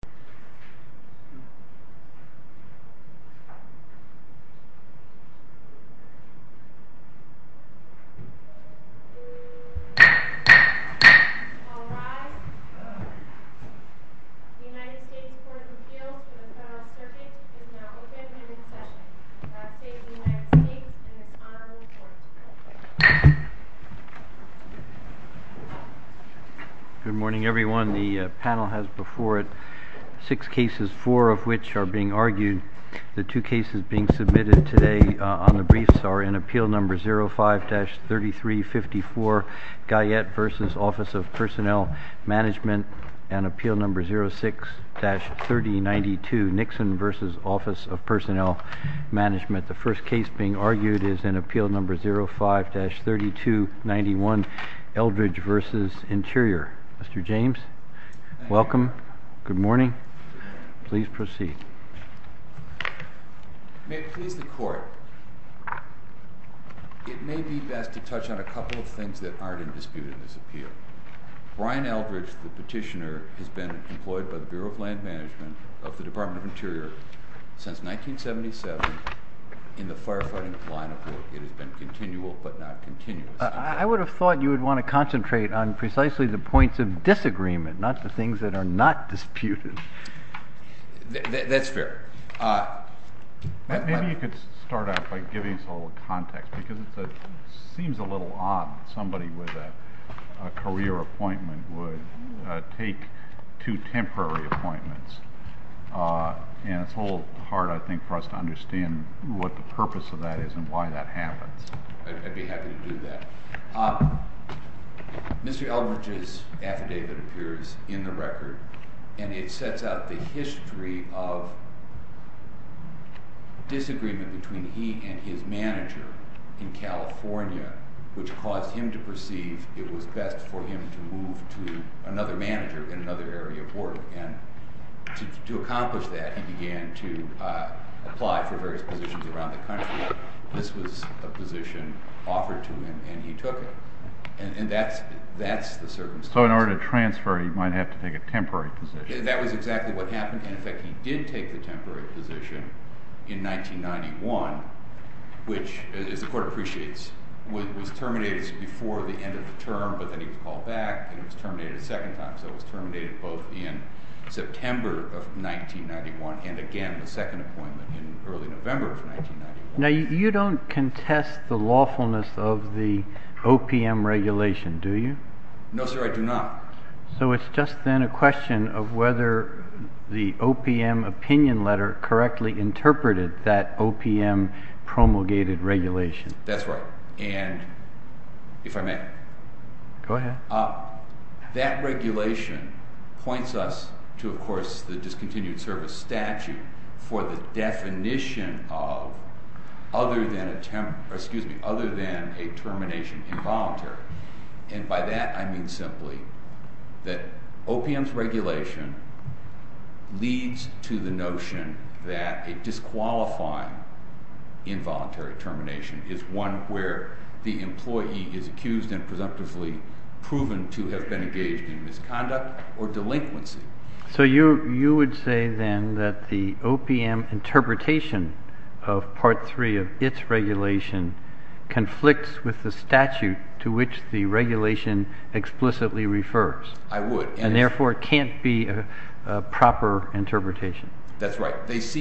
The United States Court of Appeals for the Federal Circuit is now open and in session. The United States and its Honorable Court. Good morning, everyone. The panel has before it six cases, four of which are being argued. The two cases being submitted today on the briefs are in Appeal No. 05-3354, Guyette v. Office of Personnel Management, and Appeal No. 06-3092, Nixon v. Office of Personnel Management. The first case being argued is in Appeal No. 05-3291, Eldredge v. Interior. Mr. James, welcome. Good morning. Please proceed. May it please the Court, it may be best to touch on a couple of things that aren't in dispute in this appeal. Brian Eldredge, the petitioner, has been employed by the Bureau of Land Management of the Department of Interior since 1977 in the firefighting line of work. It has been continual but not continuous. I would have thought you would want to concentrate on precisely the points of disagreement, not the things that are not disputed. That's fair. Maybe you could start out by giving us a little context because it seems a little odd that somebody with a career appointment would take two temporary appointments. It's a little hard, I think, for us to understand what the purpose of that is and why that happens. I'd be happy to do that. Mr. Eldredge's affidavit appears in the record, and it sets out the history of disagreement between he and his manager in California, which caused him to perceive it was best for him to move to another manager in another area of work. To accomplish that, he began to apply for various positions around the country. This was a position offered to him, and he took it. That's the circumstance. In order to transfer, he might have to take a temporary position. That was exactly what happened. In fact, he did take the temporary position in 1991, which, as the Court appreciates, was terminated before the end of the term, but then he was called back and it was terminated a second time. So it was terminated both in September of 1991 and, again, the second appointment in early November of 1991. Now, you don't contest the lawfulness of the OPM regulation, do you? No, sir, I do not. So it's just then a question of whether the OPM opinion letter correctly interpreted that OPM promulgated regulation. That's right. And if I may? Go ahead. That regulation points us to, of course, the discontinued service statute for the definition of other than a termination involuntary. And by that, I mean simply that OPM's regulation leads to the notion that a disqualifying involuntary termination is one where the employee is accused and presumptively proven to have been engaged in misconduct or delinquency. So you would say, then, that the OPM interpretation of Part 3 of its regulation conflicts with the statute to which the regulation explicitly refers. I would. And, therefore, it can't be a proper interpretation. That's right. Does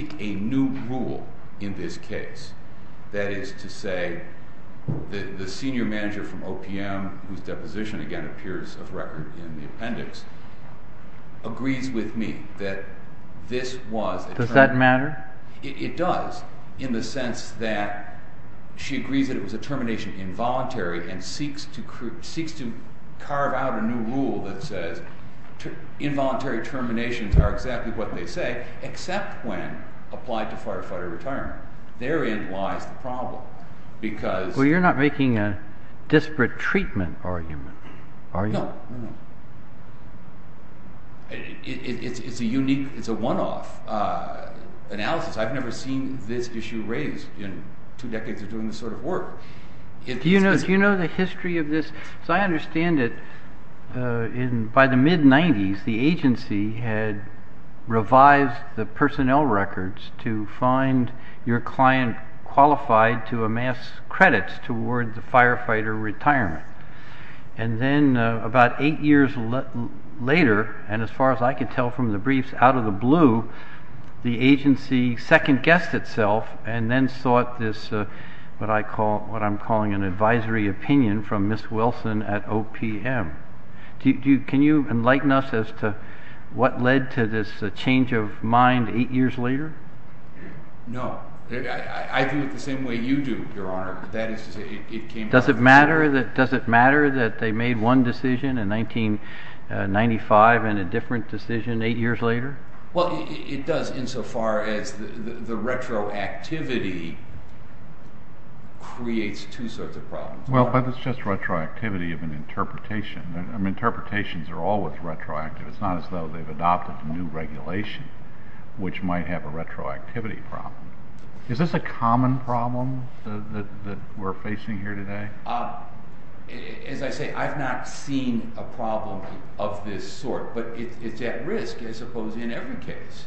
that matter? It does. In the sense that she agrees that it was a termination involuntary and seeks to carve out a new rule that says involuntary terminations are exactly what they say, except when there is a termination involuntary. Well, you're not making a disparate treatment argument, are you? No. It's a one-off analysis. I've never seen this issue raised in two decades of doing this sort of work. Do you know the history of this? As I understand it, by the mid-'90s, the agency had revised the personnel records to find your client qualified to amass credits toward the firefighter retirement. And then about eight years later, and as far as I could tell from the briefs, out of the blue, the agency second-guessed itself and then sought this what I'm calling an advisory opinion from Ms. Wilson at OPM. Can you enlighten us as to what led to this change of mind eight years later? No. I view it the same way you do, Your Honor. Does it matter that they made one decision in 1995 and a different decision eight years later? Well, it does insofar as the retroactivity creates two sorts of problems. Well, but it's just retroactivity of an interpretation. Interpretations are always retroactive. It's not as though they've adopted a new regulation, which might have a retroactivity problem. Is this a common problem that we're facing here today? As I say, I've not seen a problem of this sort, but it's at risk, I suppose, in every case.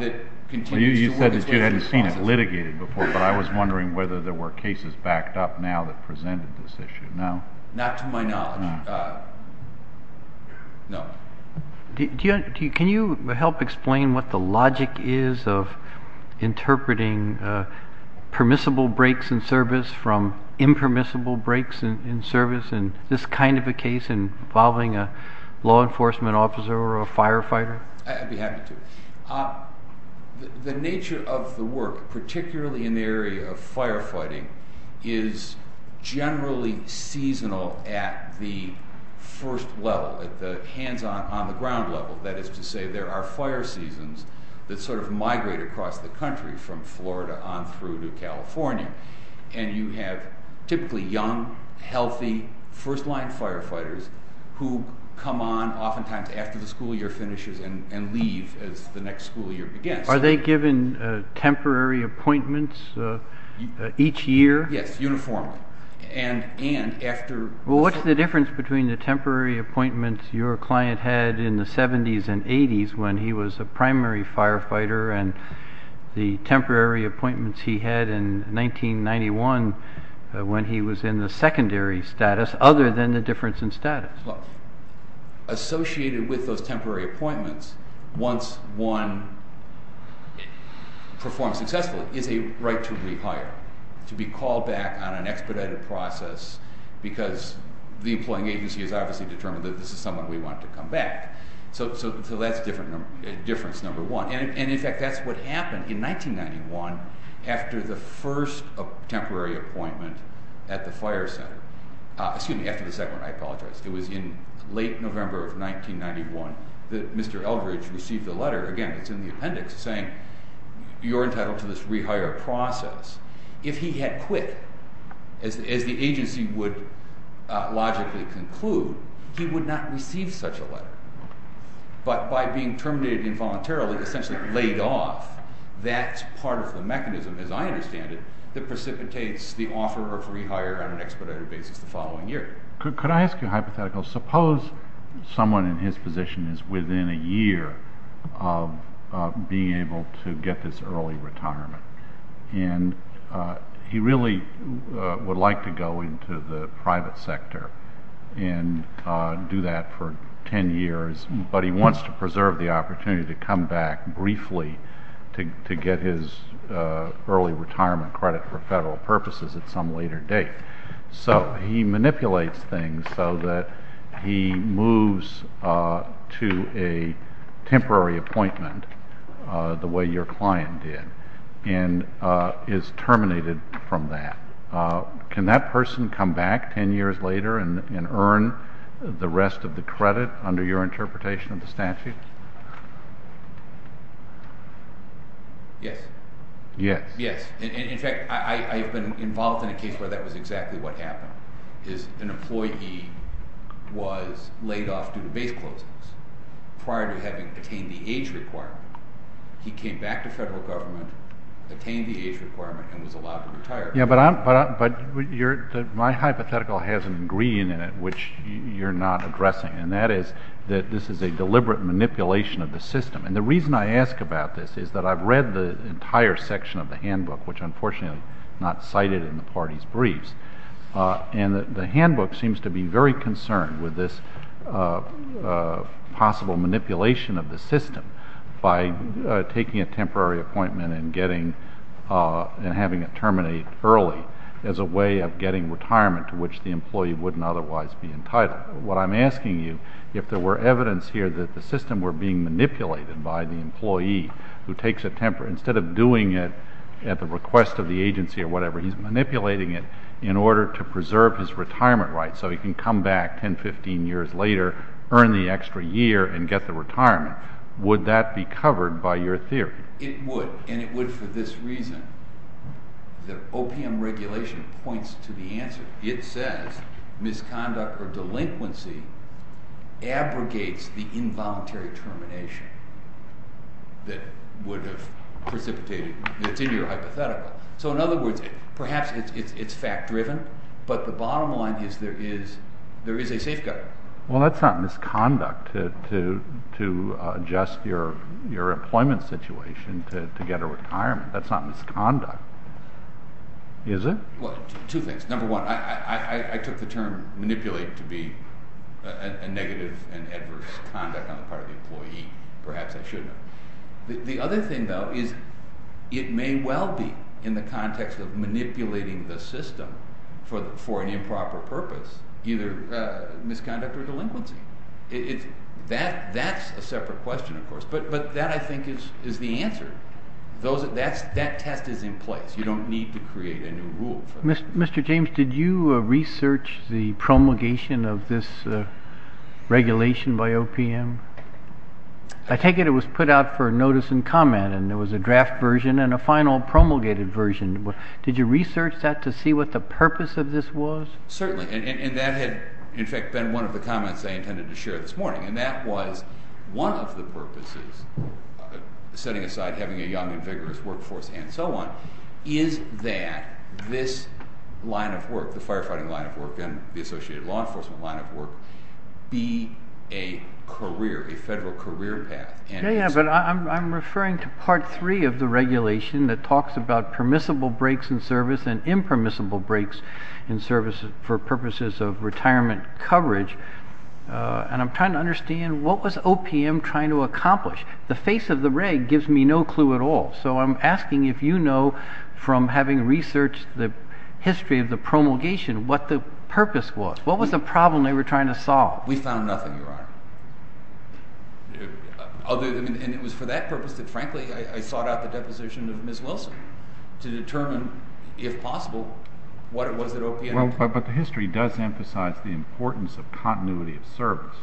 You said that you hadn't seen it litigated before, but I was wondering whether there were cases backed up now that presented this issue. No. Not to my knowledge. No. Can you help explain what the logic is of interpreting permissible breaks in service from impermissible breaks in service in this kind of a case involving a law enforcement officer or a firefighter? I'd be happy to. The nature of the work, particularly in the area of firefighting, is generally seasonal at the first level, at the hands-on, on-the-ground level. That is to say there are fire seasons that sort of migrate across the country from Florida on through to California. And you have typically young, healthy, first-line firefighters who come on oftentimes after the school year finishes and leave as the next school year begins. Are they given temporary appointments each year? Yes, uniformly. Well, what's the difference between the temporary appointments your client had in the 70s and 80s when he was a primary firefighter and the temporary appointments he had in 1991 when he was in the secondary status, other than the difference in status? Associated with those temporary appointments, once one performs successfully, is a right to rehire, to be called back on an expedited process because the employing agency has obviously determined that this is someone we want to come back. So that's difference number one. And, in fact, that's what happened in 1991 after the first temporary appointment at the fire center. Excuse me, after the second one. I apologize. It was in late November of 1991 that Mr. Eldridge received a letter, again, it's in the appendix, saying you're entitled to this rehire process. If he had quit, as the agency would logically conclude, he would not receive such a letter. But by being terminated involuntarily, essentially laid off, that's part of the mechanism, as I understand it, that precipitates the offer of rehire on an expedited basis the following year. Could I ask you a hypothetical? Suppose someone in his position is within a year of being able to get this early retirement. And he really would like to go into the private sector and do that for 10 years, but he wants to preserve the opportunity to come back briefly to get his early retirement credit for federal purposes at some later date. So he manipulates things so that he moves to a temporary appointment, the way your client did, and is terminated from that. Can that person come back 10 years later and earn the rest of the credit under your interpretation of the statute? Yes. Yes. Yes. In fact, I've been involved in a case where that was exactly what happened, is an employee was laid off due to base closings prior to having attained the age requirement. He came back to federal government, attained the age requirement, and was allowed to retire. Yeah, but my hypothetical has an ingredient in it which you're not addressing, and that is that this is a deliberate manipulation of the system. And the reason I ask about this is that I've read the entire section of the handbook, which unfortunately is not cited in the party's briefs. And the handbook seems to be very concerned with this possible manipulation of the system by taking a temporary appointment and having it terminate early as a way of getting retirement to which the employee wouldn't otherwise be entitled. But what I'm asking you, if there were evidence here that the system were being manipulated by the employee who takes a temporary, instead of doing it at the request of the agency or whatever, he's manipulating it in order to preserve his retirement rights so he can come back 10, 15 years later, earn the extra year, and get the retirement. Would that be covered by your theory? It would, and it would for this reason. The OPM regulation points to the answer. It says misconduct or delinquency abrogates the involuntary termination that would have precipitated—it's in your hypothetical. So in other words, perhaps it's fact-driven, but the bottom line is there is a safeguard. Well, that's not misconduct to adjust your employment situation to get a retirement. That's not misconduct, is it? Well, two things. Number one, I took the term manipulate to be a negative and adverse conduct on the part of the employee. Perhaps I should have. The other thing, though, is it may well be, in the context of manipulating the system for an improper purpose, either misconduct or delinquency. That's a separate question, of course, but that, I think, is the answer. That test is in place. You don't need to create a new rule. Mr. James, did you research the promulgation of this regulation by OPM? I take it it was put out for notice and comment, and there was a draft version and a final promulgated version. Did you research that to see what the purpose of this was? Certainly, and that had, in fact, been one of the comments I intended to share this morning, and that was one of the purposes, setting aside having a young and vigorous workforce and so on, is that this line of work, the firefighting line of work and the associated law enforcement line of work, be a career, a federal career path. Yes, but I'm referring to Part 3 of the regulation that talks about permissible breaks in service and impermissible breaks in service for purposes of retirement coverage, and I'm trying to understand what was OPM trying to accomplish? The face of the reg gives me no clue at all, so I'm asking if you know from having researched the history of the promulgation what the purpose was, what was the problem they were trying to solve? We found nothing, Your Honor. And it was for that purpose that, frankly, I sought out the deposition of Ms. Wilson to determine, if possible, what it was that OPM was trying to do. But the history does emphasize the importance of continuity of service.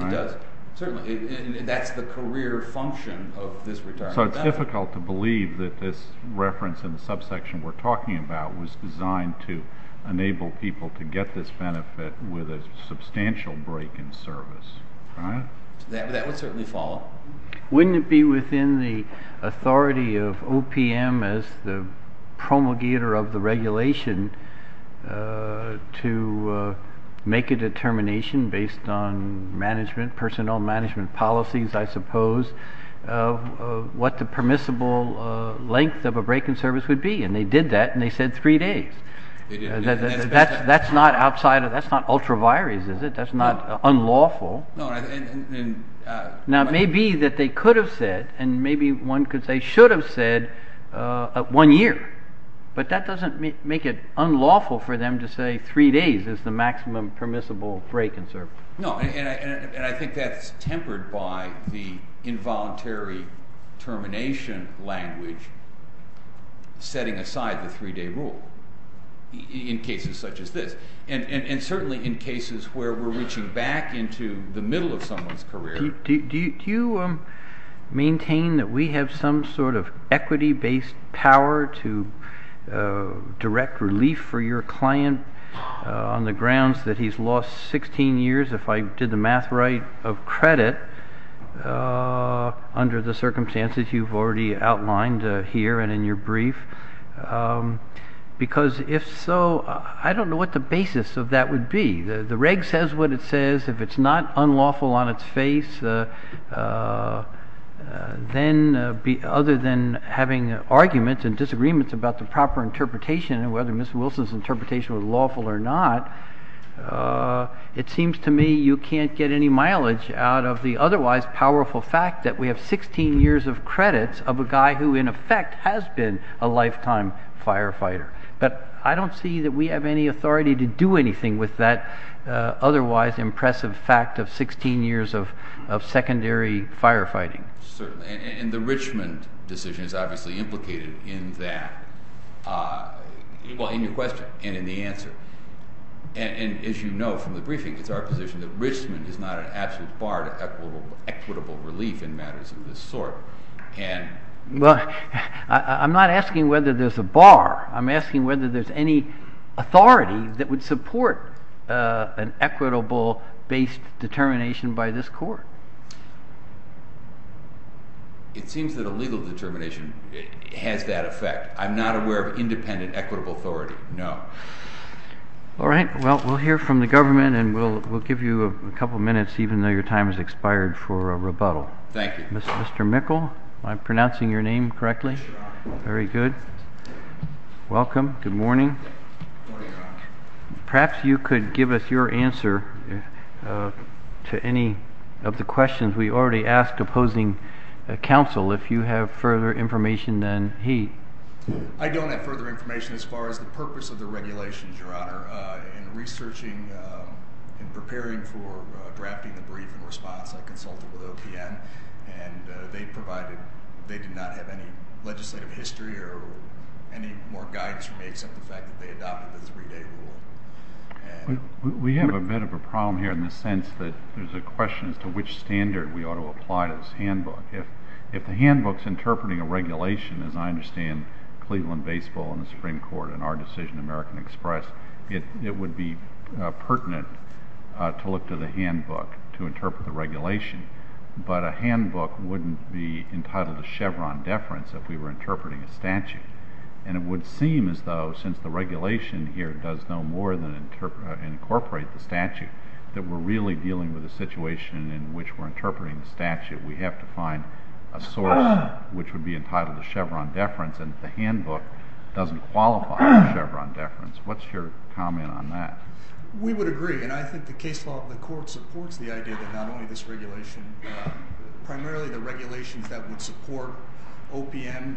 It does, certainly, and that's the career function of this retirement benefit. So it's difficult to believe that this reference in the subsection we're talking about was designed to enable people to get this benefit with a substantial break in service. That would certainly follow. Wouldn't it be within the authority of OPM as the promulgator of the regulation to make a determination based on management, personnel management policies, I suppose, of what the permissible length of a break in service would be? And they did that, and they said three days. That's not outside of – that's not ultra-virus, is it? That's not unlawful. Now, it may be that they could have said and maybe one could say should have said one year, but that doesn't make it unlawful for them to say three days is the maximum permissible break in service. No, and I think that's tempered by the involuntary termination language setting aside the three-day rule in cases such as this and certainly in cases where we're reaching back into the middle of someone's career. Do you maintain that we have some sort of equity-based power to direct relief for your client on the grounds that he's lost 16 years, if I did the math right, of credit under the circumstances you've already outlined here and in your brief? Because if so, I don't know what the basis of that would be. The reg says what it says. If it's not unlawful on its face, then other than having arguments and disagreements about the proper interpretation and whether Mr. Wilson's interpretation was lawful or not, it seems to me you can't get any mileage out of the otherwise powerful fact that we have 16 years of credits of a guy who in effect has been a lifetime firefighter. But I don't see that we have any authority to do anything with that otherwise impressive fact of 16 years of secondary firefighting. Certainly, and the Richmond decision is obviously implicated in that, well, in your question and in the answer. And as you know from the briefing, it's our position that Richmond is not an absolute bar to equitable relief in matters of this sort. Well, I'm not asking whether there's a bar. I'm asking whether there's any authority that would support an equitable-based determination by this court. It seems that a legal determination has that effect. I'm not aware of independent equitable authority, no. All right, well, we'll hear from the government and we'll give you a couple of minutes, even though your time has expired, for a rebuttal. Thank you. Mr. Mikkel, am I pronouncing your name correctly? Yes, Your Honor. Very good. Welcome. Good morning. Good morning, Your Honor. Perhaps you could give us your answer to any of the questions we already asked opposing counsel, if you have further information than he. I don't have further information as far as the purpose of the regulations, Your Honor. In researching and preparing for drafting the brief in response, I consulted with OPN. And they provided they did not have any legislative history or any more guidance for me, except the fact that they adopted the three-day rule. We have a bit of a problem here in the sense that there's a question as to which standard we ought to apply to this handbook. If the handbook's interpreting a regulation, as I understand Cleveland Baseball and the Supreme Court and our decision, American Express, it would be pertinent to look to the handbook to interpret the regulation. But a handbook wouldn't be entitled to Chevron deference if we were interpreting a statute. And it would seem as though since the regulation here does no more than incorporate the statute, that we're really dealing with a situation in which we're interpreting the statute. We have to find a source which would be entitled to Chevron deference, and the handbook doesn't qualify for Chevron deference. What's your comment on that? We would agree. And I think the case law of the court supports the idea that not only this regulation, primarily the regulations that would support OPN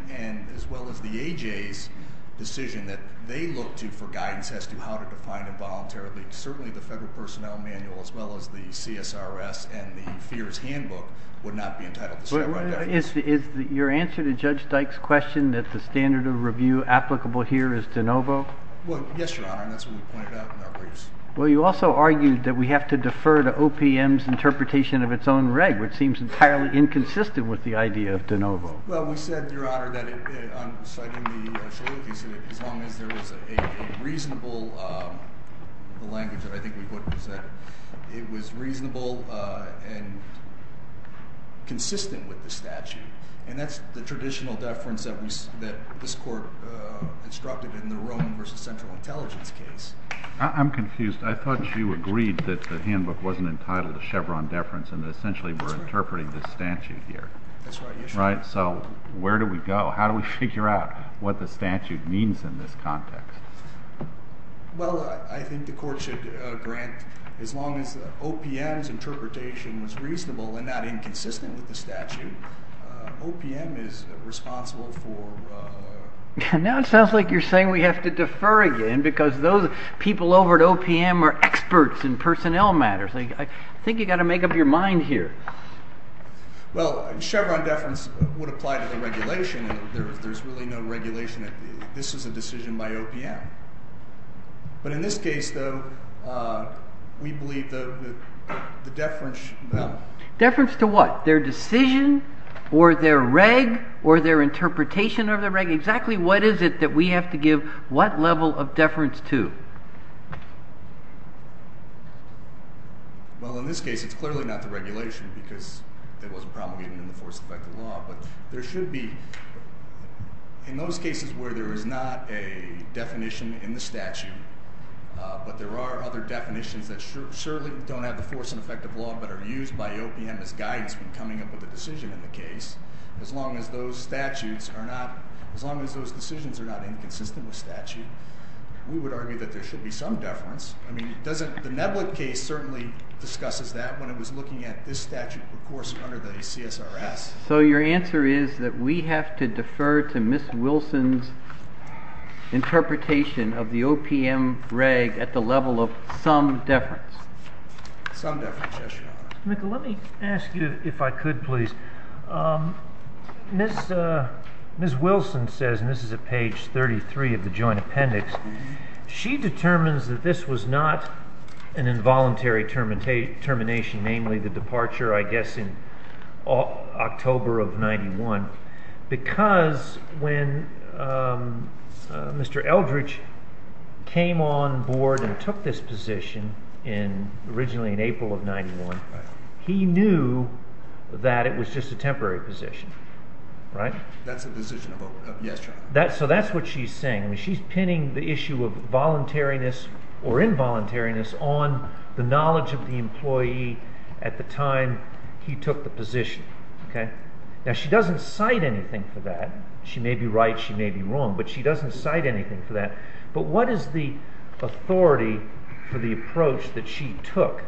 as well as the AJ's decision that they look to for guidance as to how to define involuntarily certainly the Federal Personnel Manual as well as the CSRS and the FEERS handbook would not be entitled to Chevron deference. Is your answer to Judge Dyke's question that the standard of review applicable here is de novo? Well, yes, Your Honor, and that's what we pointed out in our briefs. Well, you also argued that we have to defer to OPM's interpretation of its own reg, which seems entirely inconsistent with the idea of de novo. Well, we said, Your Honor, that on citing the Solicis, as long as there is a reasonable, the language that I think we would present, it was reasonable and consistent with the statute. And that's the traditional deference that this court instructed in the Roman v. Central Intelligence case. I'm confused. I thought you agreed that the handbook wasn't entitled to Chevron deference and that essentially we're interpreting this statute here. That's right. Right? So where do we go? How do we figure out what the statute means in this context? Well, I think the court should grant as long as OPM's interpretation was reasonable and not inconsistent with the statute, OPM is responsible for… Now it sounds like you're saying we have to defer again because those people over at OPM are experts in personnel matters. I think you've got to make up your mind here. Well, Chevron deference would apply to the regulation. There's really no regulation that this is a decision by OPM. But in this case, though, we believe the deference… Deference to what? Their decision or their reg or their interpretation of their reg? Exactly what is it that we have to give what level of deference to? Well, in this case, it's clearly not the regulation because it wasn't promulgated in the force and effect of law. But there should be, in those cases where there is not a definition in the statute but there are other definitions that certainly don't have the force and effect of law but are used by OPM as guidance when coming up with a decision in the case. As long as those statutes are not… As long as those decisions are not inconsistent with statute, we would argue that there should be some deference. I mean, doesn't… The Nevlin case certainly discusses that when it was looking at this statute, of course, under the CSRS. So your answer is that we have to defer to Ms. Wilson's interpretation of the OPM reg at the level of some deference? Some deference, yes, Your Honor. Let me ask you, if I could, please. Ms. Wilson says, and this is at page 33 of the joint appendix, she determines that this was not an involuntary termination, namely the departure, I guess, in October of 1991, because when Mr. Eldridge came on board and took this position in… originally in April of 1991, he knew that it was just a temporary position, right? That's a decision of… Yes, Your Honor. So that's what she's saying. I mean, she's pinning the issue of voluntariness or involuntariness on the knowledge of the employee at the time he took the position, okay? Now, she doesn't cite anything for that. She may be right, she may be wrong, but she doesn't cite anything for that. But what is the authority for the approach that she took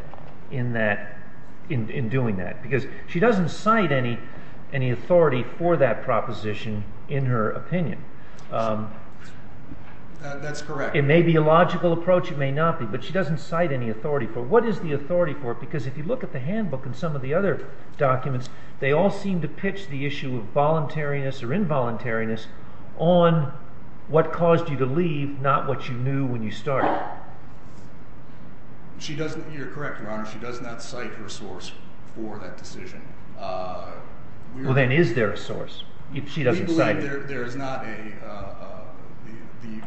in that… in doing that? Because she doesn't cite any authority for that proposition in her opinion. That's correct. It may be a logical approach, it may not be, but she doesn't cite any authority for it. What is the authority for it? Because if you look at the handbook and some of the other documents, they all seem to pitch the issue of voluntariness or involuntariness on what caused you to leave, not what you knew when you started. She doesn't… you're correct, Your Honor, she does not cite her source for that decision. Well, then is there a source? She doesn't cite it. We believe there is not a…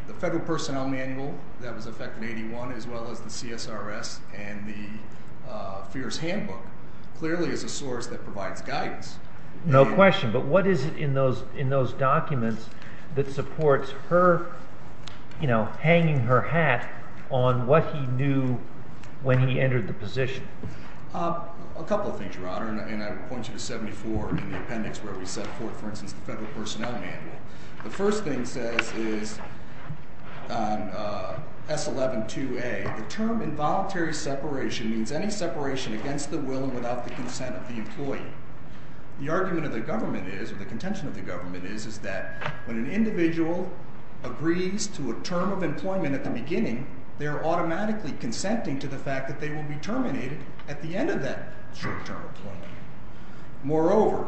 the Federal Personnel Manual that was effected in 81 as well as the CSRS and the Fears Handbook clearly is a source that provides guidance. No question, but what is it in those documents that supports her, you know, hanging her hat on what he knew when he entered the position? A couple of things, Your Honor, and I point you to 74 in the appendix where we set forth, for instance, the Federal Personnel Manual. The first thing it says is on S11-2A, the term involuntary separation means any separation against the will and without the consent of the employee. The argument of the government is, or the contention of the government is, is that when an individual agrees to a term of employment at the beginning, they are automatically consenting to the fact that they will be terminated at the end of that short-term employment. Moreover,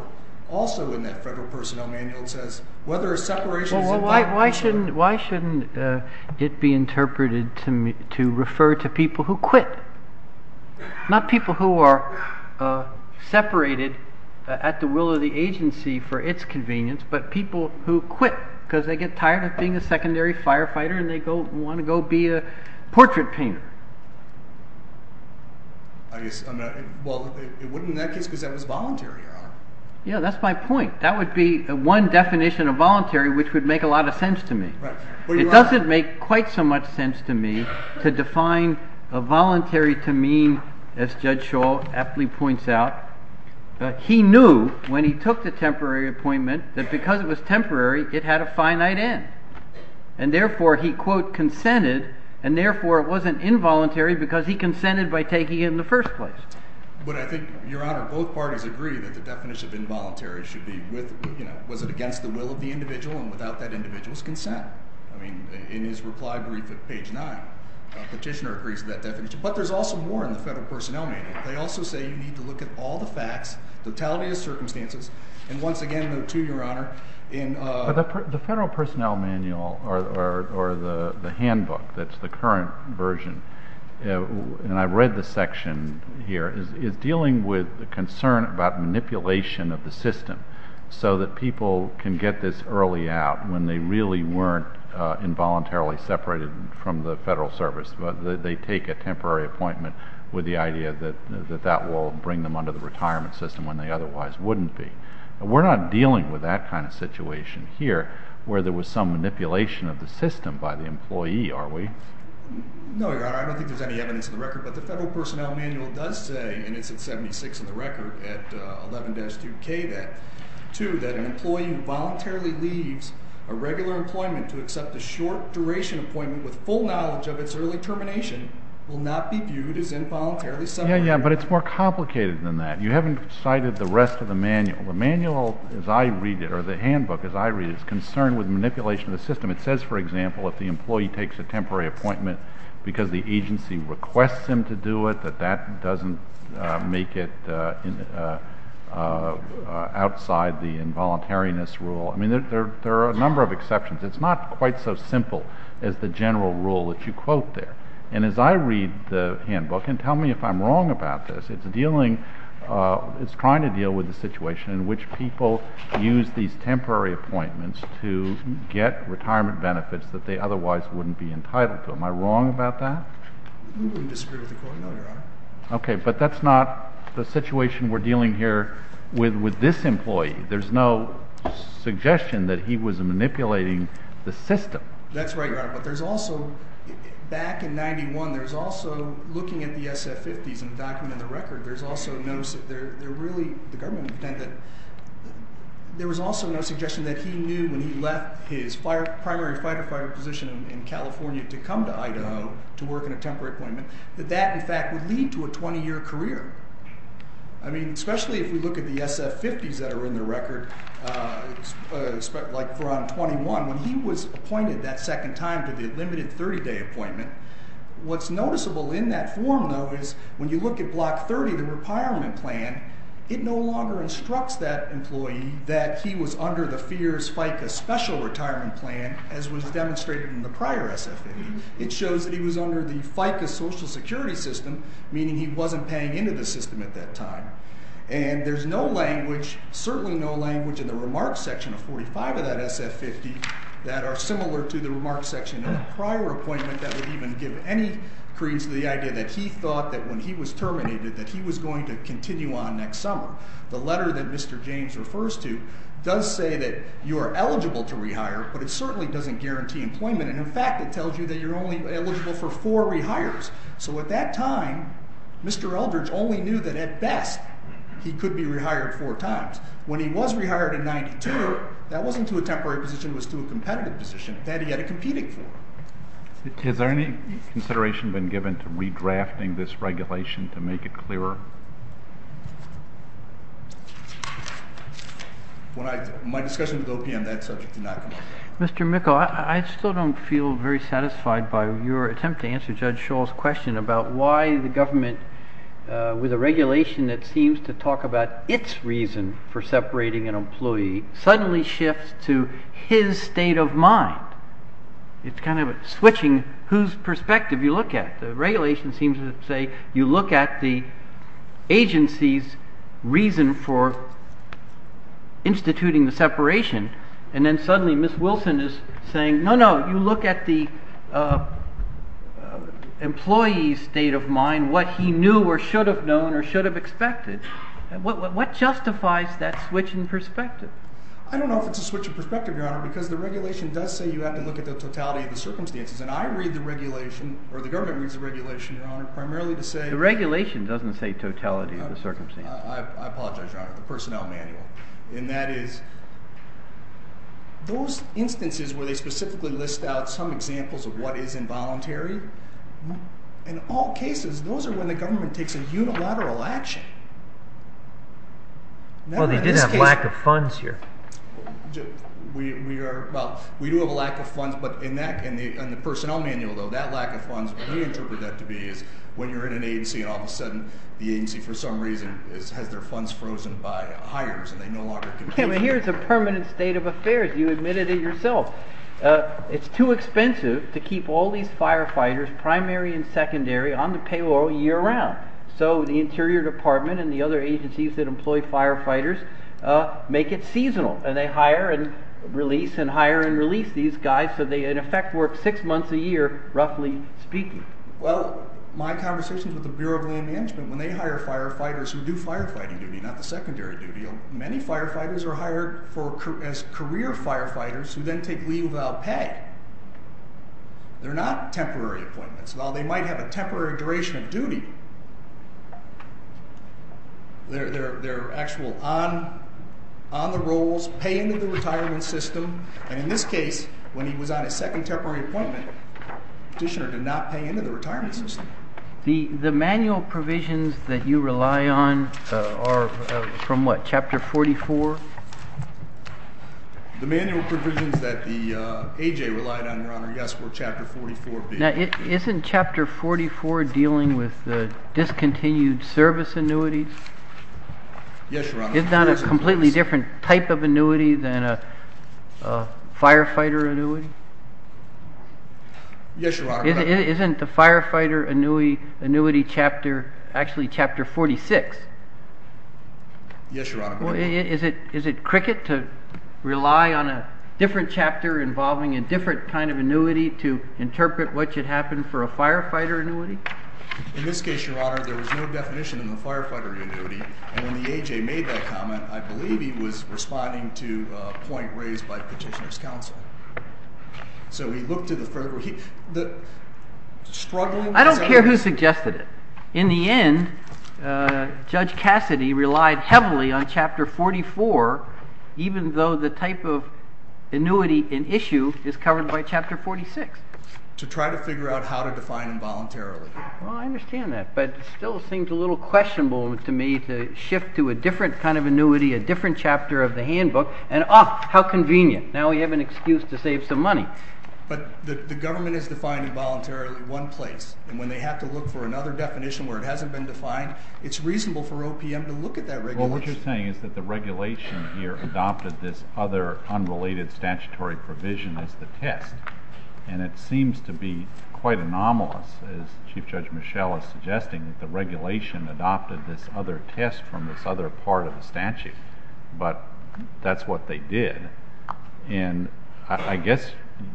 also in that Federal Personnel Manual it says whether a separation is… Well, why shouldn't it be interpreted to refer to people who quit? Not people who are separated at the will of the agency for its convenience, but people who quit because they get tired of being a secondary firefighter and they want to go be a portrait painter. Well, it wouldn't in that case because that was voluntary, Your Honor. Yeah, that's my point. That would be one definition of voluntary which would make a lot of sense to me. It doesn't make quite so much sense to me to define a voluntary to mean, as Judge Shaw aptly points out, he knew when he took the temporary appointment that because it was temporary, it had a finite end. And therefore he, quote, consented, and therefore it wasn't involuntary because he consented by taking it in the first place. But I think, Your Honor, both parties agree that the definition of involuntary should be with, you know, was it against the will of the individual and without that individual's consent. I mean, in his reply brief at page 9, a petitioner agrees to that definition. But there's also more in the Federal Personnel Manual. They also say you need to look at all the facts, totality of circumstances, and once again, note too, Your Honor, in… The Federal Personnel Manual or the handbook that's the current version, and I read the section here, is dealing with the concern about manipulation of the system so that people can get this early out when they really weren't involuntarily separated from the Federal Service. They take a temporary appointment with the idea that that will bring them under the retirement system when they otherwise wouldn't be. We're not dealing with that kind of situation here where there was some manipulation of the system by the employee, are we? No, Your Honor. I don't think there's any evidence in the record. But the Federal Personnel Manual does say, and it's at 76 in the record at 11-2k, that, two, that an employee who voluntarily leaves a regular employment to accept a short-duration appointment with full knowledge of its early termination will not be viewed as involuntarily separated. Yeah, yeah, but it's more complicated than that. You haven't cited the rest of the manual. The manual, as I read it, or the handbook, as I read it, is concerned with manipulation of the system. It says, for example, if the employee takes a temporary appointment because the agency requests him to do it, that that doesn't make it outside the involuntariness rule. I mean, there are a number of exceptions. It's not quite so simple as the general rule that you quote there. And as I read the handbook, and tell me if I'm wrong about this, it's dealing—it's trying to deal with the situation in which people use these temporary appointments to get retirement benefits that they otherwise wouldn't be entitled to. Am I wrong about that? We disagree with the court, no, Your Honor. Okay, but that's not the situation we're dealing here with this employee. There's no suggestion that he was manipulating the system. That's right, Your Honor. But there's also—back in 91, there's also, looking at the SF-50s in the document of the record, there's also no—they're really—the government intended—there was also no suggestion that he knew when he left his primary firefighter position in California to come to Idaho to work in a temporary appointment that that, in fact, would lead to a 20-year career. I mean, especially if we look at the SF-50s that are in the record, like for on 21, when he was appointed that second time to the limited 30-day appointment, what's noticeable in that form, though, is when you look at Block 30, the retirement plan, it no longer instructs that employee that he was under the FEERS FICA special retirement plan as was demonstrated in the prior SF-50. It shows that he was under the FICA social security system, meaning he wasn't paying into the system at that time. And there's no language, certainly no language, in the remarks section of 45 of that SF-50 that are similar to the remarks section in the prior appointment that would even give any credence to the idea that he thought that when he was terminated that he was going to continue on next summer. The letter that Mr. James refers to does say that you are eligible to rehire, but it certainly doesn't guarantee employment. And, in fact, it tells you that you're only eligible for four rehires. So at that time, Mr. Eldridge only knew that, at best, he could be rehired four times. When he was rehired in 92, that wasn't to a temporary position. It was to a competitive position that he had a competing for. Has there any consideration been given to redrafting this regulation to make it clearer? My discussion with OPM on that subject did not come up. Mr. Mickel, I still don't feel very satisfied by your attempt to answer Judge Schall's question about why the government, with a regulation that seems to talk about its reason for separating an employee, suddenly shifts to his state of mind. It's kind of switching whose perspective you look at. The regulation seems to say you look at the agency's reason for instituting the separation, and then suddenly Ms. Wilson is saying, no, no, you look at the employee's state of mind, what he knew or should have known or should have expected. What justifies that switch in perspective? I don't know if it's a switch in perspective, Your Honor, because the regulation does say you have to look at the totality of the circumstances. And I read the regulation, or the government reads the regulation, Your Honor, primarily to say— The regulation doesn't say totality of the circumstances. I apologize, Your Honor, the personnel manual. And that is, those instances where they specifically list out some examples of what is involuntary, in all cases, those are when the government takes a unilateral action. Well, they did have lack of funds here. We do have a lack of funds, but in the personnel manual, though, that lack of funds, we interpret that to be when you're in an agency and all of a sudden the agency, for some reason, has their funds frozen by hires and they no longer can— Here's a permanent state of affairs. You admitted it yourself. It's too expensive to keep all these firefighters, primary and secondary, on the payroll year-round. So the Interior Department and the other agencies that employ firefighters make it seasonal, and they hire and release and hire and release these guys, so they, in effect, work six months a year, roughly speaking. Well, my conversations with the Bureau of Land Management, when they hire firefighters who do firefighting duty, not the secondary duty, many firefighters are hired as career firefighters who then take leave without pay. They're not temporary appointments. While they might have a temporary duration of duty, they're actually on the rolls, paying to the retirement system, and in this case, when he was on his second temporary appointment, the petitioner did not pay into the retirement system. The manual provisions that you rely on are from what, Chapter 44? The manual provisions that the A.J. relied on, Your Honor, yes, were Chapter 44B. Now, isn't Chapter 44 dealing with discontinued service annuities? Yes, Your Honor. Isn't that a completely different type of annuity than a firefighter annuity? Yes, Your Honor. Isn't the firefighter annuity Chapter, actually, Chapter 46? Yes, Your Honor. Well, is it cricket to rely on a different chapter involving a different kind of annuity to interpret what should happen for a firefighter annuity? In this case, Your Honor, there was no definition in the firefighter annuity, and when the A.J. made that comment, I believe he was responding to a point raised by Petitioner's Counsel. So he looked at the further, he, the, struggling with some of these. Petitioner suggested it. In the end, Judge Cassidy relied heavily on Chapter 44, even though the type of annuity in issue is covered by Chapter 46. To try to figure out how to define involuntarily. Well, I understand that, but it still seems a little questionable to me to shift to a different kind of annuity, a different chapter of the handbook, and, oh, how convenient. Now we have an excuse to save some money. But the government has defined involuntarily one place, and when they have to look for another definition where it hasn't been defined, it's reasonable for OPM to look at that regulation. Well, what you're saying is that the regulation here adopted this other unrelated statutory provision as the test. And it seems to be quite anomalous, as Chief Judge Mischel is suggesting, that the regulation adopted this other test from this other part of the statute. But that's what they did. And I guess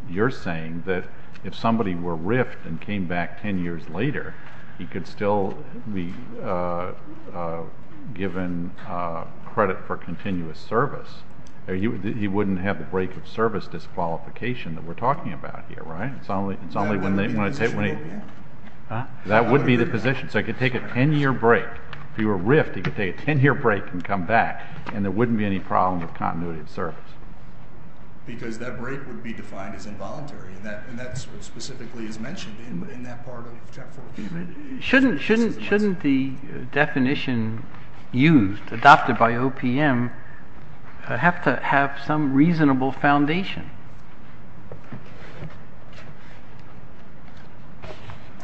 you're saying that if somebody were riffed and came back ten years later, he could still be given credit for continuous service. He wouldn't have the break of service disqualification that we're talking about here, right? It's only when they, when they, that would be the position. So he could take a ten year break. If he were riffed, he could take a ten year break and come back, and there wouldn't be any problem with continuity of service. Because that break would be defined as involuntary. And that specifically is mentioned in that part of Chapter 4. Shouldn't the definition used, adopted by OPM, have to have some reasonable foundation?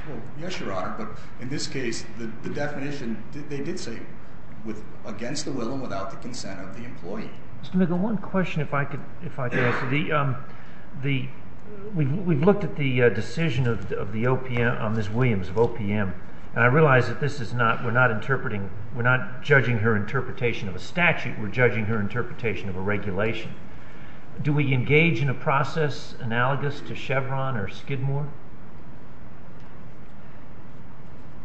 Well, yes, Your Honor. But in this case, the definition, they did say against the will and without the consent of the employee. Mr. McGill, one question if I could, if I could answer. The, we've looked at the decision of the OPM, of Ms. Williams of OPM. And I realize that this is not, we're not interpreting, we're not judging her interpretation of a statute. We're judging her interpretation of a regulation. Do we engage in a process analogous to Chevron or Skidmore?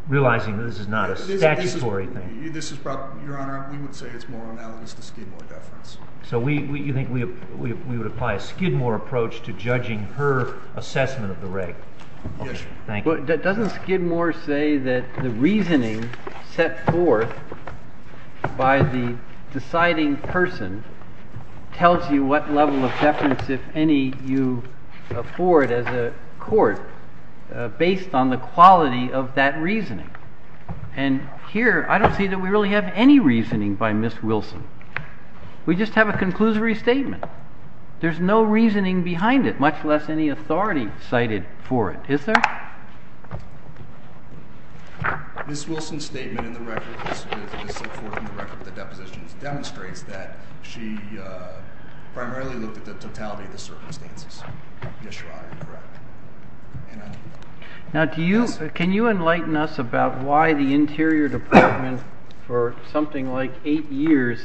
Realizing that this is not a statutory thing. This is about, Your Honor, we would say it's more analogous to Skidmore deference. So we, you think we would apply a Skidmore approach to judging her assessment of the rate? Yes. Thank you. Doesn't Skidmore say that the reasoning set forth by the deciding person tells you what level of deference, if any, you afford as a court, based on the quality of that reasoning? And here, I don't see that we really have any reasoning by Ms. Wilson. We just have a conclusory statement. There's no reasoning behind it, much less any authority cited for it. Is there? Ms. Wilson's statement in the record, as set forth in the record of the depositions, demonstrates that she primarily looked at the totality of the circumstances. Yes, Your Honor, you're correct. Now, can you enlighten us about why the Interior Department, for something like eight years,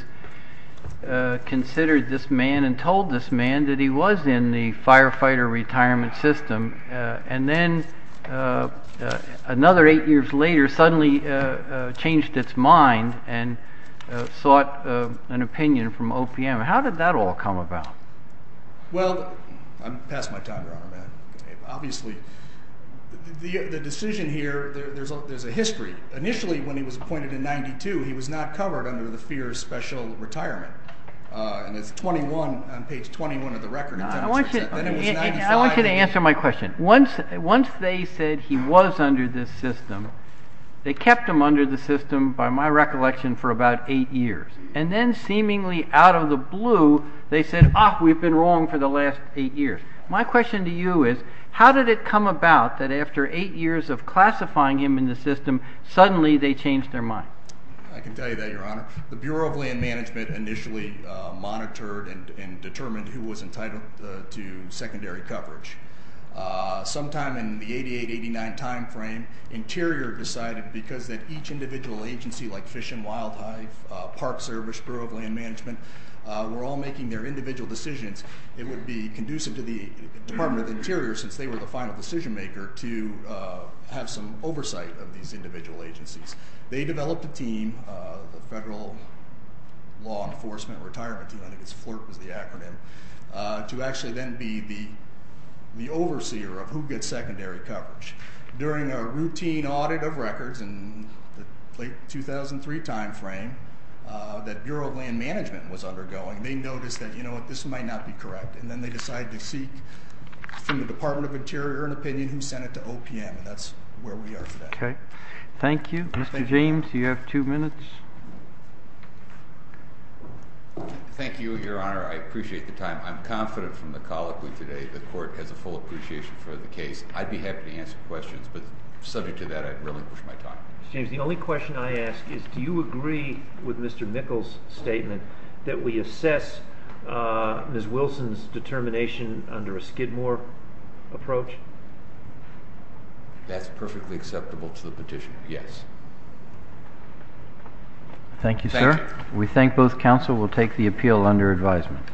considered this man and told this man that he was in the firefighter retirement system, and then another eight years later suddenly changed its mind and sought an opinion from OPM? How did that all come about? Well, I'm past my time, Your Honor. Obviously, the decision here, there's a history. Initially, when he was appointed in 1992, he was not covered under the FEERS special retirement. And it's 21, on page 21 of the record. I want you to answer my question. Once they said he was under this system, they kept him under the system, by my recollection, for about eight years. And then seemingly out of the blue, they said, ah, we've been wrong for the last eight years. My question to you is, how did it come about that after eight years of classifying him in the system, suddenly they changed their mind? I can tell you that, Your Honor. The Bureau of Land Management initially monitored and determined who was entitled to secondary coverage. Sometime in the 88, 89 timeframe, Interior decided because that each individual agency, like Fish and Wild Hive, Park Service, Bureau of Land Management, were all making their individual decisions, it would be conducive to the Department of Interior, since they were the final decision maker, to have some oversight of these individual agencies. They developed a team, the Federal Law Enforcement Retirement Team, I think FLIRP is the acronym, to actually then be the overseer of who gets secondary coverage. During a routine audit of records in the late 2003 timeframe that Bureau of Land Management was undergoing, they noticed that, you know what, this might not be correct. And then they decided to seek from the Department of Interior an opinion who sent it to OPM. And that's where we are today. Okay. Thank you. Mr. James, you have two minutes. Thank you, Your Honor. I appreciate the time. I'm confident from the colloquy today the Court has a full appreciation for the case. I'd be happy to answer questions, but subject to that, I'd relinquish my time. Mr. James, the only question I ask is do you agree with Mr. Mickels' statement that we assess Ms. Wilson's determination under a Skidmore approach? That's perfectly acceptable to the petition, yes. Thank you, sir. We thank both counsel. We'll take the appeal under advisement.